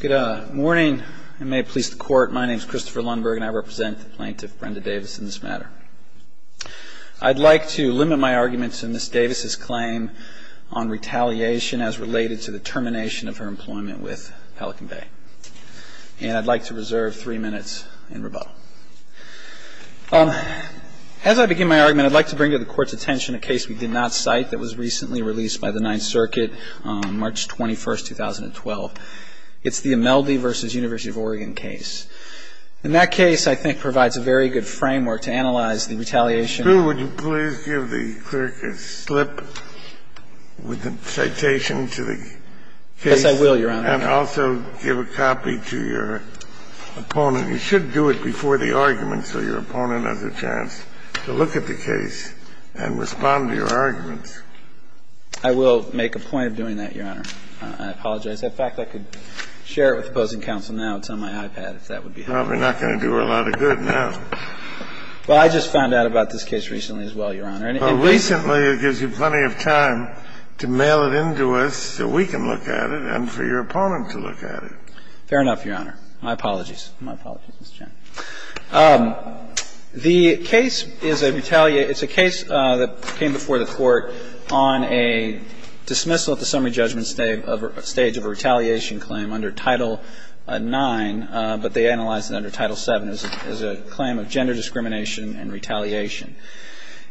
Good morning, and may it please the court, my name is Christopher Lundberg and I represent the plaintiff Brenda Davis in this matter. I'd like to limit my arguments in Ms. Davis's claim on retaliation as related to the termination of her employment with Pelican Bay. And I'd like to reserve three minutes in rebuttal. As I begin my argument, I'd like to bring to the court's attention a case we did not cite that was recently released by the Ninth Circuit on March 21, 2012. It's the Imeldi v. University of Oregon case. And that case, I think, provides a very good framework to analyze the retaliation. Scalia, would you please give the clerk a slip with the citation to the case? Yes, I will, Your Honor. And also give a copy to your opponent. You should do it before the argument so your opponent has a chance to look at the case and respond to your arguments. I will make a point of doing that, Your Honor. I apologize. In fact, I could share it with opposing counsel now. It's on my iPad, if that would be helpful. Probably not going to do her a lot of good now. Well, I just found out about this case recently as well, Your Honor. Well, recently, it gives you plenty of time to mail it in to us so we can look at it and for your opponent to look at it. Fair enough, Your Honor. My apologies. My apologies, Mr. Chairman. The case is a retaliation – it's a case that came before the Court on a dismissal at the summary judgment stage of a retaliation claim under Title IX, but they analyzed it under Title VII as a claim of gender discrimination and retaliation.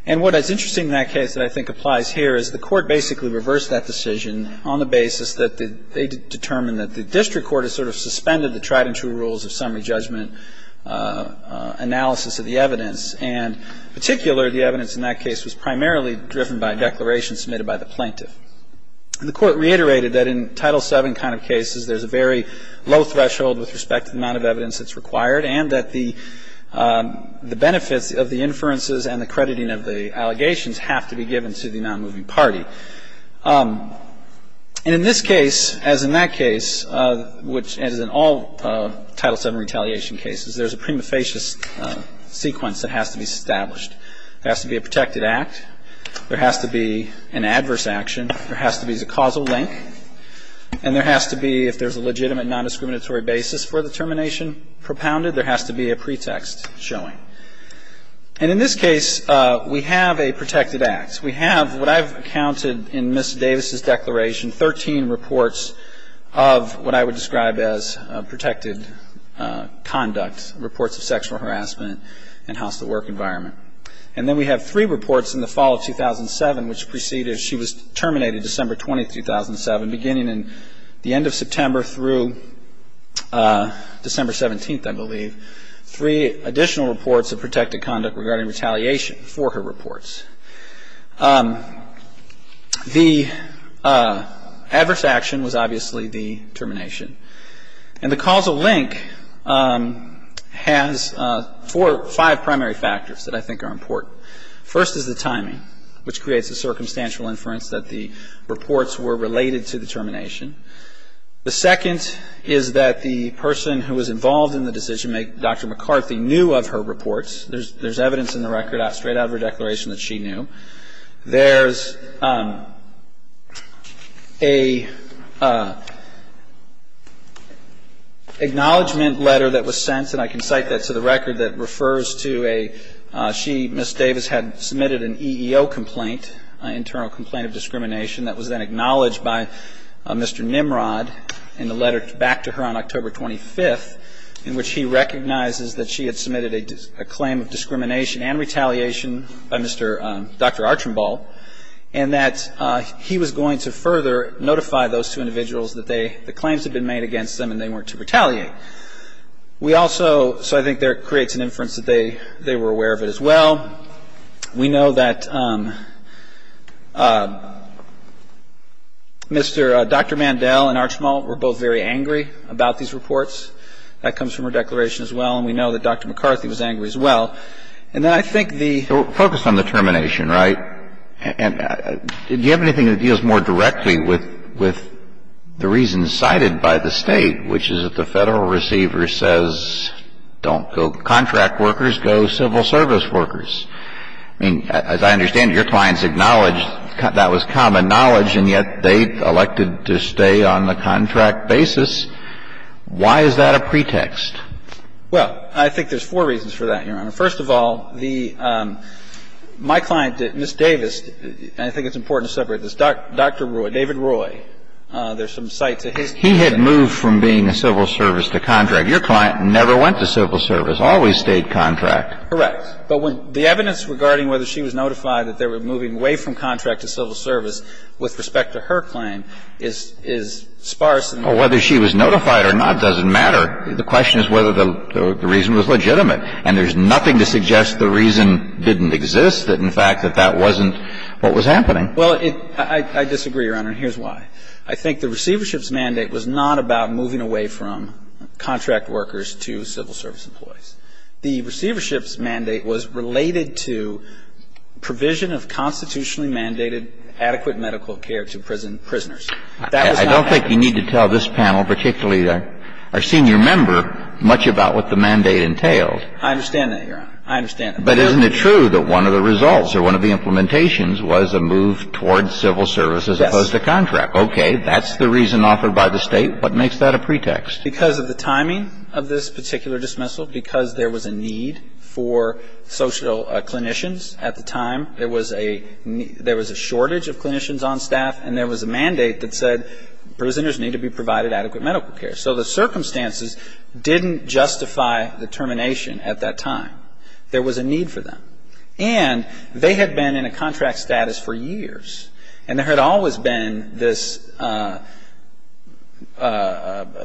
And what is interesting in that case that I think applies here is the Court basically reversed that decision on the basis that they determined that the district court sort of suspended the tried and true rules of summary judgment analysis of the evidence. And in particular, the evidence in that case was primarily driven by a declaration submitted by the plaintiff. And the Court reiterated that in Title VII kind of cases, there's a very low threshold with respect to the amount of evidence that's required and that the benefits of the inferences and the crediting of the allegations have to be given to the nonmoving And in this case, as in that case, which as in all Title VII retaliation cases, there's a prima facie sequence that has to be established. There has to be a protected act. There has to be an adverse action. There has to be the causal link. And there has to be, if there's a legitimate non-discriminatory basis for the termination propounded, there has to be a pretext showing. And in this case, we have a protected act. We have what I've counted in Ms. Davis' declaration, 13 reports of what I would describe as protected conduct, reports of sexual harassment and hostile work environment. And then we have three reports in the fall of 2007, which preceded, she was terminated December 20, 2007, beginning in the end of September through December 17, I believe, three additional reports of protected conduct regarding retaliation for her reports. The adverse action was obviously the termination. And the causal link has four or five primary factors that I think are important. First is the timing, which creates a circumstantial inference that the reports were related to the termination. The second is that the person who was involved in the decision, Dr. McCarthy, knew of her reports. There's evidence in the record straight out of her declaration that she knew. There's an acknowledgment letter that was sent, and I can cite that to the record, that refers to a she, Ms. Davis, had submitted an EEO complaint, an internal complaint of discrimination, that was then acknowledged by Mr. Nimrod in the letter back to her on October 25th, in which he recognizes that she had submitted a claim of discrimination and retaliation by Dr. Archambault, and that he was going to further notify those two individuals that the claims had been made against them and they weren't to retaliate. We also, so I think there it creates an inference that they were aware of it as well. We know that Dr. Mandel and Archambault were both very angry about the fact that Dr. McCarthy was angry about these reports. That comes from her declaration as well, and we know that Dr. McCarthy was angry as well. And then I think the ---- So focus on the termination, right? And do you have anything that deals more directly with the reasons cited by the State, which is that the Federal receiver says don't go contract workers, go civil service workers? I mean, as I understand it, your clients acknowledged that was common knowledge, and yet they elected to stay on the contract basis. Why is that a pretext? Well, I think there's four reasons for that, Your Honor. First of all, the ---- my client, Ms. Davis, and I think it's important to separate this, Dr. Roy, David Roy, there's some cites of his. He had moved from being a civil service to contract. Your client never went to civil service, always stayed contract. Correct. But when the evidence regarding whether she was notified that they were moving away from contract to civil service with respect to her claim is sparse. Well, whether she was notified or not doesn't matter. The question is whether the reason was legitimate. And there's nothing to suggest the reason didn't exist, that in fact that that wasn't what was happening. Well, I disagree, Your Honor, and here's why. I think the receivership's mandate was not about moving away from contract workers to civil service employees. The receivership's mandate was related to provision of constitutionally mandated adequate medical care to prisoners. That was not the case. I don't think you need to tell this panel, particularly our senior member, much about what the mandate entailed. I understand that, Your Honor. I understand that. But isn't it true that one of the results or one of the implementations was a move toward civil service as opposed to contract? Okay. That's the reason offered by the State. What makes that a pretext? Because of the timing of this particular dismissal, because there was a need for social clinicians at the time. There was a shortage of clinicians on staff, and there was a mandate that said prisoners need to be provided adequate medical care. So the circumstances didn't justify the termination at that time. There was a need for them. And they had been in a contract status for years, and there had always been this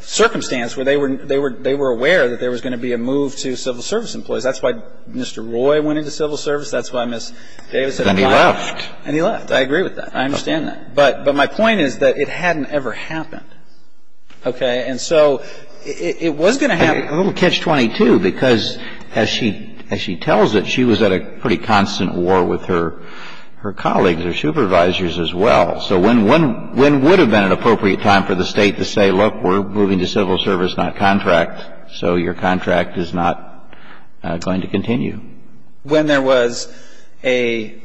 circumstance where they were aware that there was going to be a move to civil service employees. That's why Mr. Roy went into civil service. That's why Ms. Davis had applied. And he left. And he left. I agree with that. I understand that. But my point is that it hadn't ever happened. Okay. And so it was going to happen. A little catch-22, because as she tells it, she was at a pretty constant war with her colleagues, her supervisors as well. So when would have been an appropriate time for the State to say, look, we're moving to civil service, not contract, so your contract is not going to continue? When there was a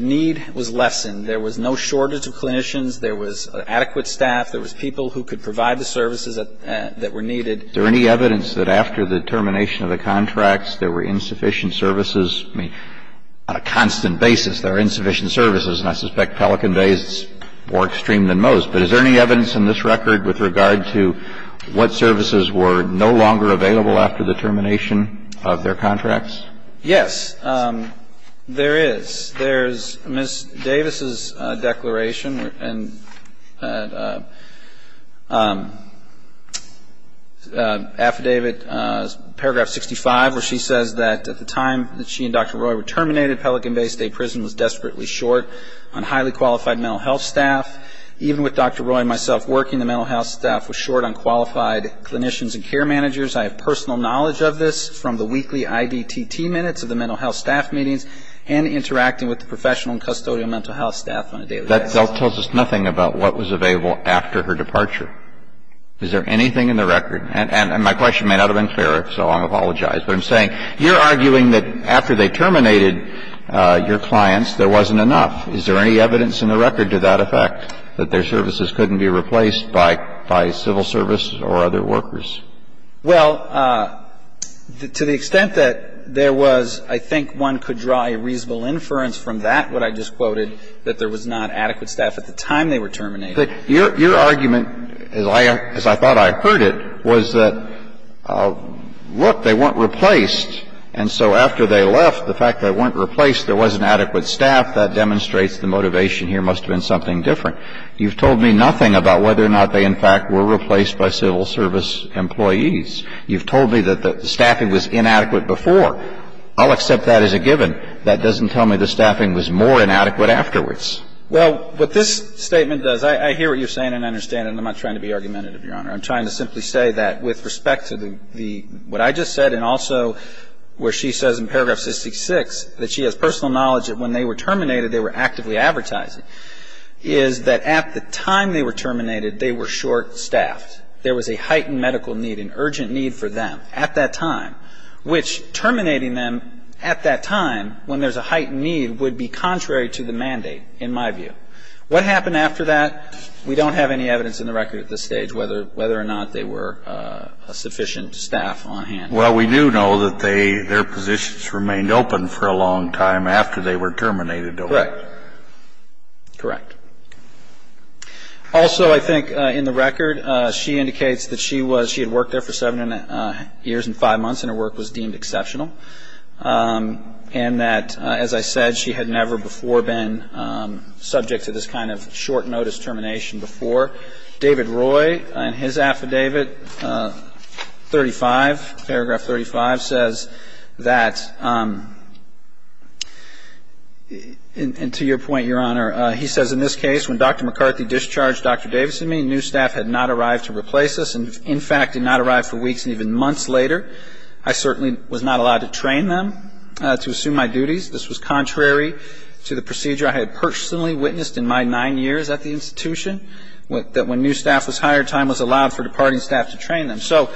need was lessened. There was no shortage of clinicians. There was adequate staff. There was people who could provide the services that were needed. Is there any evidence that after the termination of the contracts there were insufficient services? I mean, on a constant basis there are insufficient services. And I suspect Pelican Bay is more extreme than most. But is there any evidence in this record with regard to what services were no longer available after the termination of their contracts? Yes, there is. There's Ms. Davis's declaration and affidavit, paragraph 65, where she says that at the time that she and Dr. Roy were terminated, Pelican Bay State Prison was desperately short on highly qualified mental health staff. Even with Dr. Roy and myself working, the mental health staff was short on qualified clinicians and care managers. I have personal knowledge of this from the weekly IDTT minutes of the mental health staff meetings and interacting with the professional and custodial mental health staff on a daily basis. That tells us nothing about what was available after her departure. Is there anything in the record? And my question may not have been clear, so I'll apologize. But I'm saying, you're arguing that after they terminated your clients, there wasn't enough. Is there any evidence in the record to that effect, that their services couldn't be replaced by civil service or other workers? Well, to the extent that there was, I think one could draw a reasonable inference from that, what I just quoted, that there was not adequate staff at the time they were terminated. Your argument, as I thought I heard it, was that, look, they weren't replaced, and so after they left, the fact that they weren't replaced, there wasn't adequate staff, that demonstrates the motivation here must have been something different. You've told me nothing about whether or not they, in fact, were replaced by civil service employees. You've told me that the staffing was inadequate before. I'll accept that as a given. That doesn't tell me the staffing was more inadequate afterwards. Well, what this statement does, I hear what you're saying and I understand it. I'm not trying to be argumentative, Your Honor. I'm trying to simply say that with respect to the – what I just said and also where she says in paragraph 66 that she has personal knowledge that when they were terminated, they were actively advertising, is that at the time they were terminated, they were short-staffed. There was a heightened medical need, an urgent need for them at that time, which terminating them at that time when there's a heightened need would be contrary to the mandate, in my view. What happened after that, we don't have any evidence in the record at this stage whether or not they were a sufficient staff on hand. Well, we do know that they – their positions remained open for a long time after they were terminated, though. Correct. Correct. Also, I think in the record, she indicates that she was – she had worked there for seven years and five months and her work was deemed exceptional and that, as I said, she had never before been subject to this kind of short-notice termination before. David Roy, in his affidavit 35, paragraph 35, says that – and to your point, Your Honor, he says, In this case, when Dr. McCarthy discharged Dr. Davis and me, new staff had not arrived to replace us and, in fact, did not arrive for weeks and even months later. I certainly was not allowed to train them to assume my duties. This was contrary to the procedure I had personally witnessed in my nine years at the institution, that when new staff was hired, time was allowed for departing staff to train them. So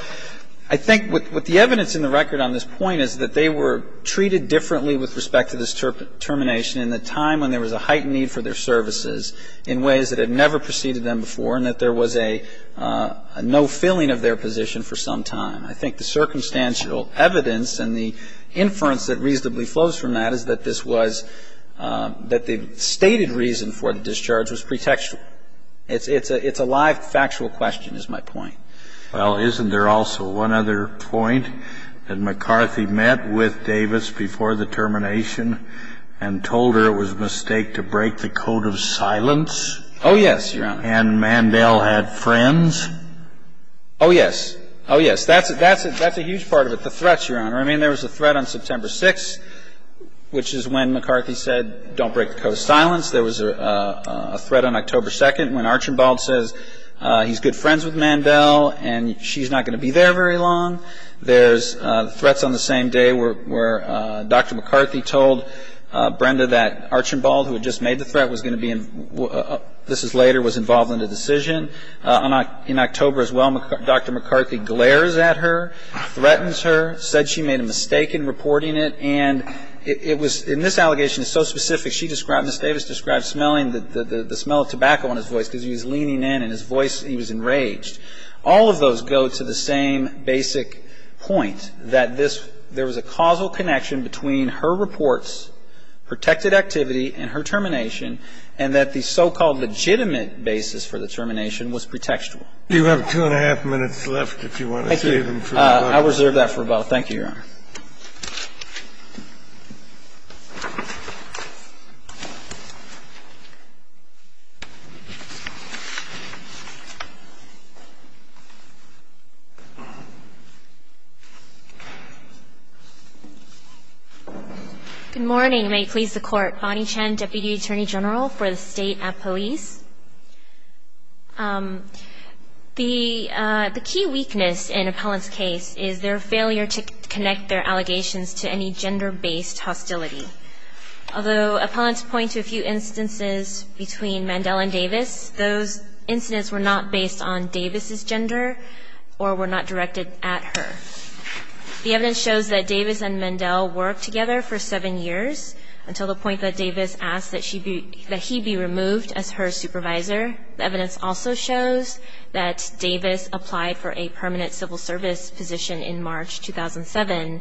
I think what the evidence in the record on this point is that they were treated differently with respect to this termination in the time when there was a heightened need for their services in ways that had never preceded them before and that there was a no filling of their position for some time. I think the circumstantial evidence and the inference that reasonably flows from that is that this was – that the stated reason for the discharge was pretextual. It's a live, factual question, is my point. Well, isn't there also one other point, that McCarthy met with Davis before the termination and told her it was a mistake to break the code of silence? Oh, yes, Your Honor. And Mandel had friends? Oh, yes. Oh, yes. That's a huge part of it, the threats, Your Honor. I mean, there was a threat on September 6th, which is when McCarthy said, don't break the code of silence. There was a threat on October 2nd when Archambault says he's good friends with Mandel and she's not going to be there very long. There's threats on the same day where Dr. McCarthy told Brenda that Archambault, who had just made the threat, was going to be – this is later, was involved in the decision. In October as well, Dr. McCarthy glares at her, threatens her, said she made a mistake in reporting it, and it was – and this allegation is so specific. She described – Ms. Davis described smelling – the smell of tobacco on his voice because he was leaning in and his voice – he was enraged. All of those go to the same basic point, that this – there was a causal connection between her reports, protected activity, and her termination, and that the so-called legitimate basis for the termination was pretextual. Do you have two and a half minutes left if you want to save them for later? Thank you. I'll reserve that for about – thank you, Your Honor. Good morning. May it please the Court. Bonnie Chan, Deputy Attorney General for the State Appellees. The key weakness in Appellant's case is their failure to connect their allegations to any gender-based hostility. Although Appellants point to a few instances between Mandel and Davis, those incidents were not based on Davis's gender or were not directed at her. The evidence shows that Davis and Mandel worked together for seven years, until the point that Davis asked that she be – that he be removed as her supervisor. The evidence also shows that Davis applied for a permanent civil service position in March 2007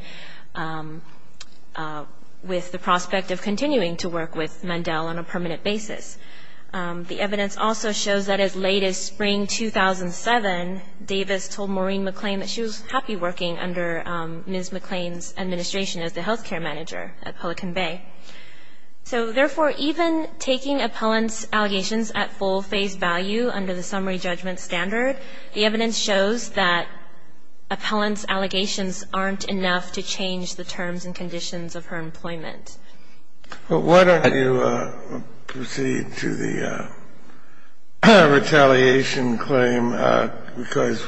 with the prospect of continuing to work with Mandel on a permanent basis. The evidence also shows that as late as spring 2007, Davis told Maureen McLean that she was happy working under Ms. McLean's administration as the healthcare manager at Pelican Bay. So, therefore, even taking Appellant's allegations at full face value under the summary judgment standard, the evidence shows that Appellant's allegations aren't enough to change the terms and conditions of her employment. But why don't you proceed to the retaliation claim, because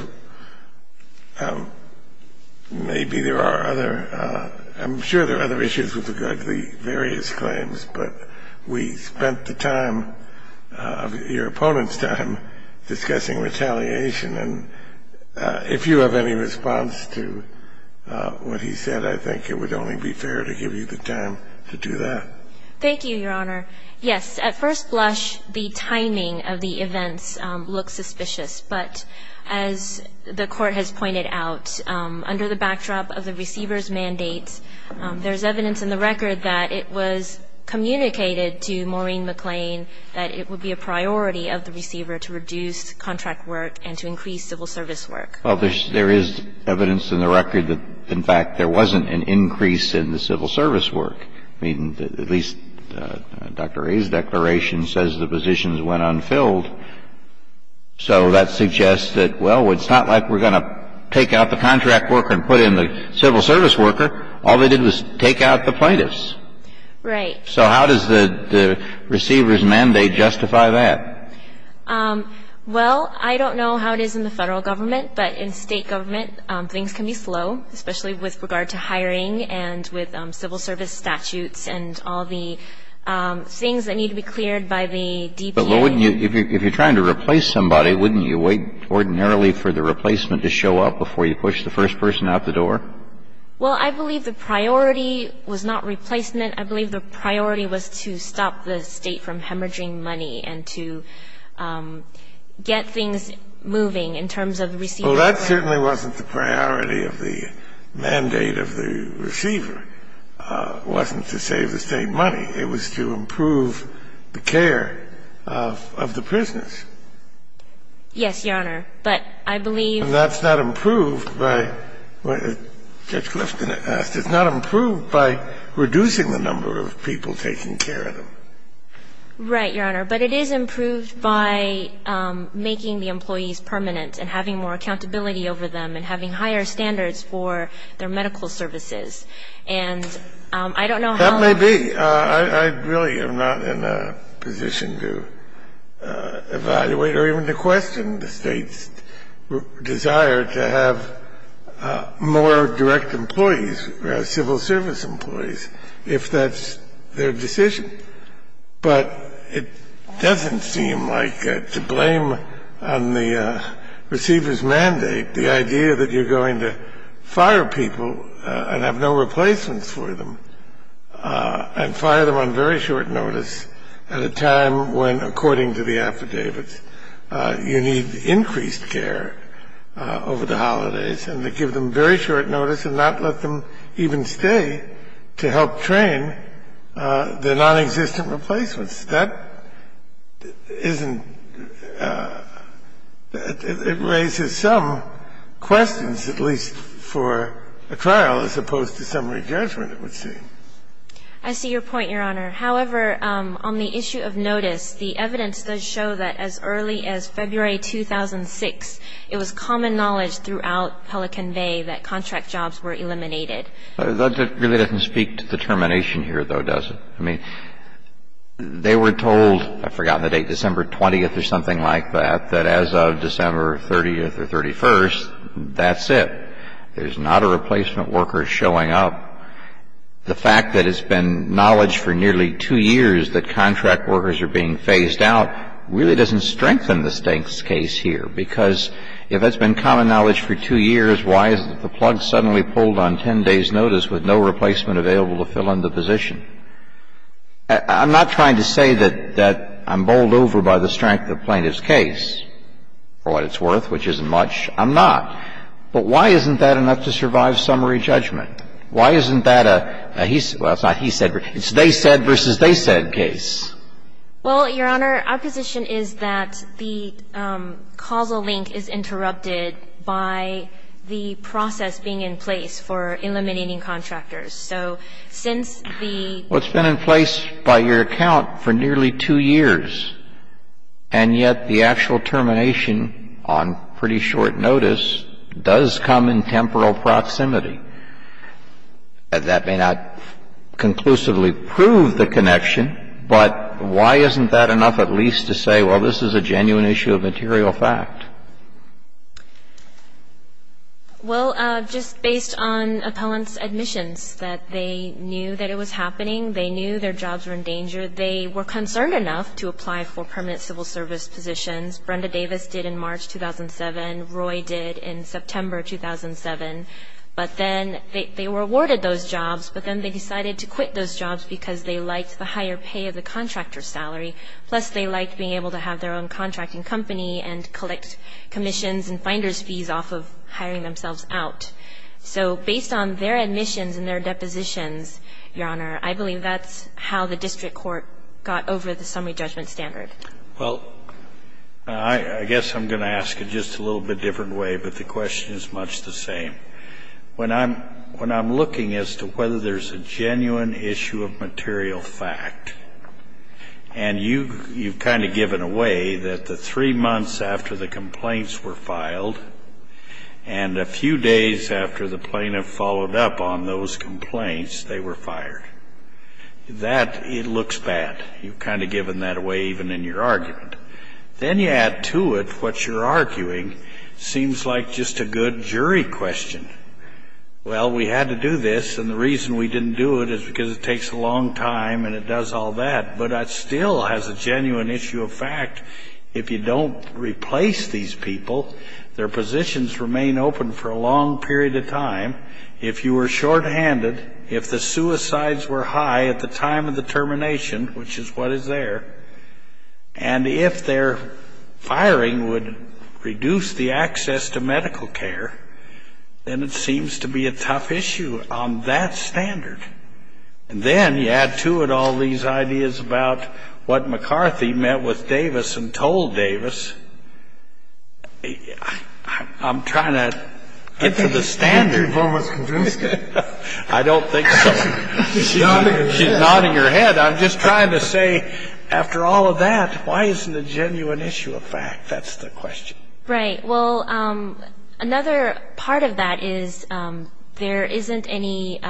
maybe there are other – I'm sure there are other issues with regard to the various claims, but we spent the time of your opponent's time discussing retaliation. And if you have any response to what he said, I think it would only be fair to give you the time to do that. Thank you, Your Honor. Yes, at first blush, the timing of the events looks suspicious, but as the Court has pointed out, under the backdrop of the receiver's mandates, there's evidence in the record that it was communicated to Maureen McLean that it would be a priority of the receiver to reduce contract work and to increase civil service work. Well, there is evidence in the record that, in fact, there wasn't an increase in the civil service work. I mean, at least Dr. A's declaration says the positions went unfilled. So that suggests that, well, it's not like we're going to take out the contract worker and put in the civil service worker. All they did was take out the plaintiffs. Right. So how does the receiver's mandate justify that? Well, I don't know how it is in the Federal government, but in State government, things can be slow, especially with regard to hiring and with civil service statutes and all the things that need to be cleared by the DPA. But, well, wouldn't you – if you're trying to replace somebody, wouldn't you wait ordinarily for the replacement to show up before you push the first person out the door? Well, I believe the priority was not replacement. I believe the priority was to stop the State from hemorrhaging money and to get things moving in terms of the receiver. Well, that certainly wasn't the priority of the mandate of the receiver, wasn't to save the State money. It was to improve the care of the prisoners. Yes, Your Honor. But I believe – And that's not improved by – Judge Clifton asked. It's not improved by reducing the number of people taking care of them. Right, Your Honor. But it is improved by making the employees permanent and having more accountability over them and having higher standards for their medical services. And I don't know how – That may be. I really am not in a position to evaluate or even to question the State's desire to have more direct employees, civil service employees, if that's their decision. But it doesn't seem like, to blame on the receiver's mandate, the idea that you're going to fire people and have no replacements for them and fire them on very short notice at a time when, according to the affidavits, you need increased care over the holidays and to give them very short notice and not let them even stay to help train the nonexistent replacements. That isn't – it raises some questions, at least for a trial, as opposed to summary judgment, it would seem. I see your point, Your Honor. However, on the issue of notice, the evidence does show that as early as February 2006, it was common knowledge throughout Pelican Bay that contract jobs were eliminated. That really doesn't speak to the termination here, though, does it? I mean, they were told – I've forgotten the date – December 20th or something like that, that as of December 30th or 31st, that's it. There's not a replacement worker showing up. The fact that it's been knowledge for nearly two years that contract workers are being I'm not trying to say that I'm bowled over by the strength of the plaintiff's case, for what it's worth, which isn't much. I'm not. But why isn't that enough to survive summary judgment? Why isn't that a he – well, it's not he said – it's they said versus they said case? Well, it's been in place by your account for nearly two years. And yet the actual termination on pretty short notice does come in temporal proximity. That may not conclusively prove the connection, but why isn't that enough at least to say, well, this is a genuine issue of material fact? Well, just based on appellant's admissions, that they knew that it was happening. They knew their jobs were in danger. They were concerned enough to apply for permanent civil service positions. Brenda Davis did in March 2007. Roy did in September 2007. But then they were awarded those jobs, but then they decided to quit those jobs because they liked the higher pay of the contractor's salary. Plus, they liked being able to have their own contracting company and collect commissions and finder's fees off of hiring themselves out. So based on their admissions and their depositions, Your Honor, I believe that's how the district court got over the summary judgment standard. Well, I guess I'm going to ask it just a little bit different way, but the question is much the same. When I'm – when I'm looking as to whether there's a genuine issue of material fact, and you – you've kind of given away that the three months after the complaints were filed and a few days after the plaintiff followed up on those complaints, they were fired. That – it looks bad. You've kind of given that away even in your argument. Then you add to it what you're arguing seems like just a good jury question. Well, we had to do this, and the reason we didn't do it is because it takes a long time and it does all that. But that still has a genuine issue of fact. If you don't replace these people, their positions remain open for a long period of time. If you were shorthanded, if the suicides were high at the time of the termination, which is what is there, and if their firing would reduce the access to medical care, then it seems to be a tough issue on that standard. And then you add to it all these ideas about what McCarthy met with Davis and told Davis. I'm trying to get to the standard. I don't think so. She's nodding her head. I'm just trying to say, after all of that, why isn't a genuine issue of fact? That's the question. Right. Well, another part of that is there isn't any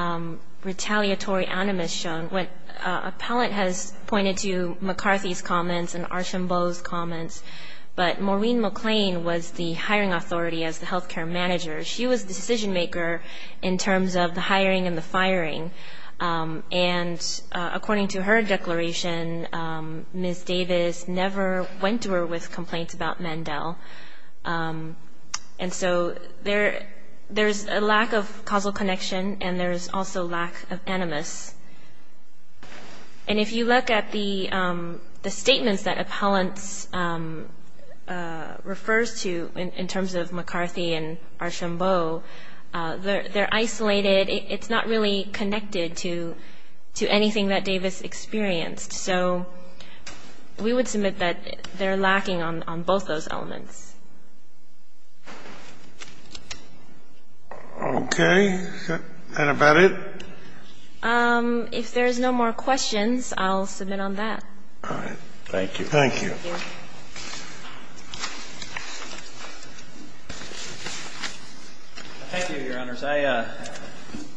retaliatory animus shown. Appellant has pointed to McCarthy's comments and Archambault's comments, but Maureen McLean was the hiring authority as the health care manager. She was the decision maker in terms of the hiring and the firing. And according to her declaration, Ms. Davis never went to her with complaints about Mandel. And so there's a lack of causal connection, and there's also lack of animus. And if you look at the statements that appellants refers to in terms of McCarthy and Archambault, they're isolated. It's not really connected to anything that Davis experienced. So we would submit that they're lacking on both those elements. Okay. Is that about it? If there's no more questions, I'll submit on that. All right. Thank you. Thank you. Thank you, Your Honors. I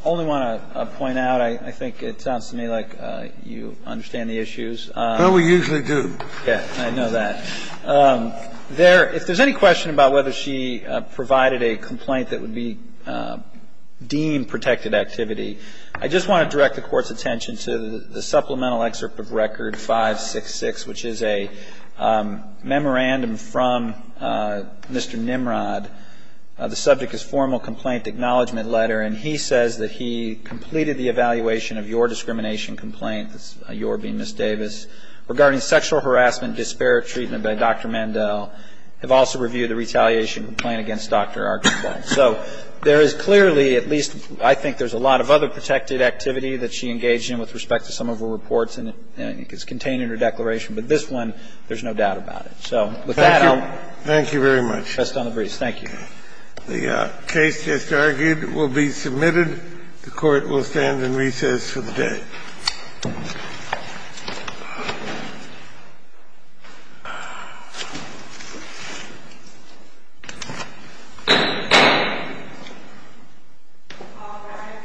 only want to point out, I think it sounds to me like you understand the issues. Well, we usually do. Yes. I know that. If there's any question about whether she provided a complaint that would be deemed protected activity, I just want to direct the Court's attention to the supplemental excerpt of Record 566, which is a memorandum from Mr. Nimrod. The subject is formal complaint acknowledgement letter, and he says that he completed the evaluation of your discrimination complaint, yours being Ms. Davis, regarding sexual harassment, disparate treatment by Dr. Mandel, have also reviewed the retaliation complaint against Dr. Archambault. So there is clearly, at least I think there's a lot of other protected activity that she engaged in with respect to some of her reports, and it's contained in her declaration. But this one, there's no doubt about it. So with that, I'll ---- Thank you. Thank you very much. I trust on the briefs. Thank you. The case, as argued, will be submitted. The Court will stand in recess for the day.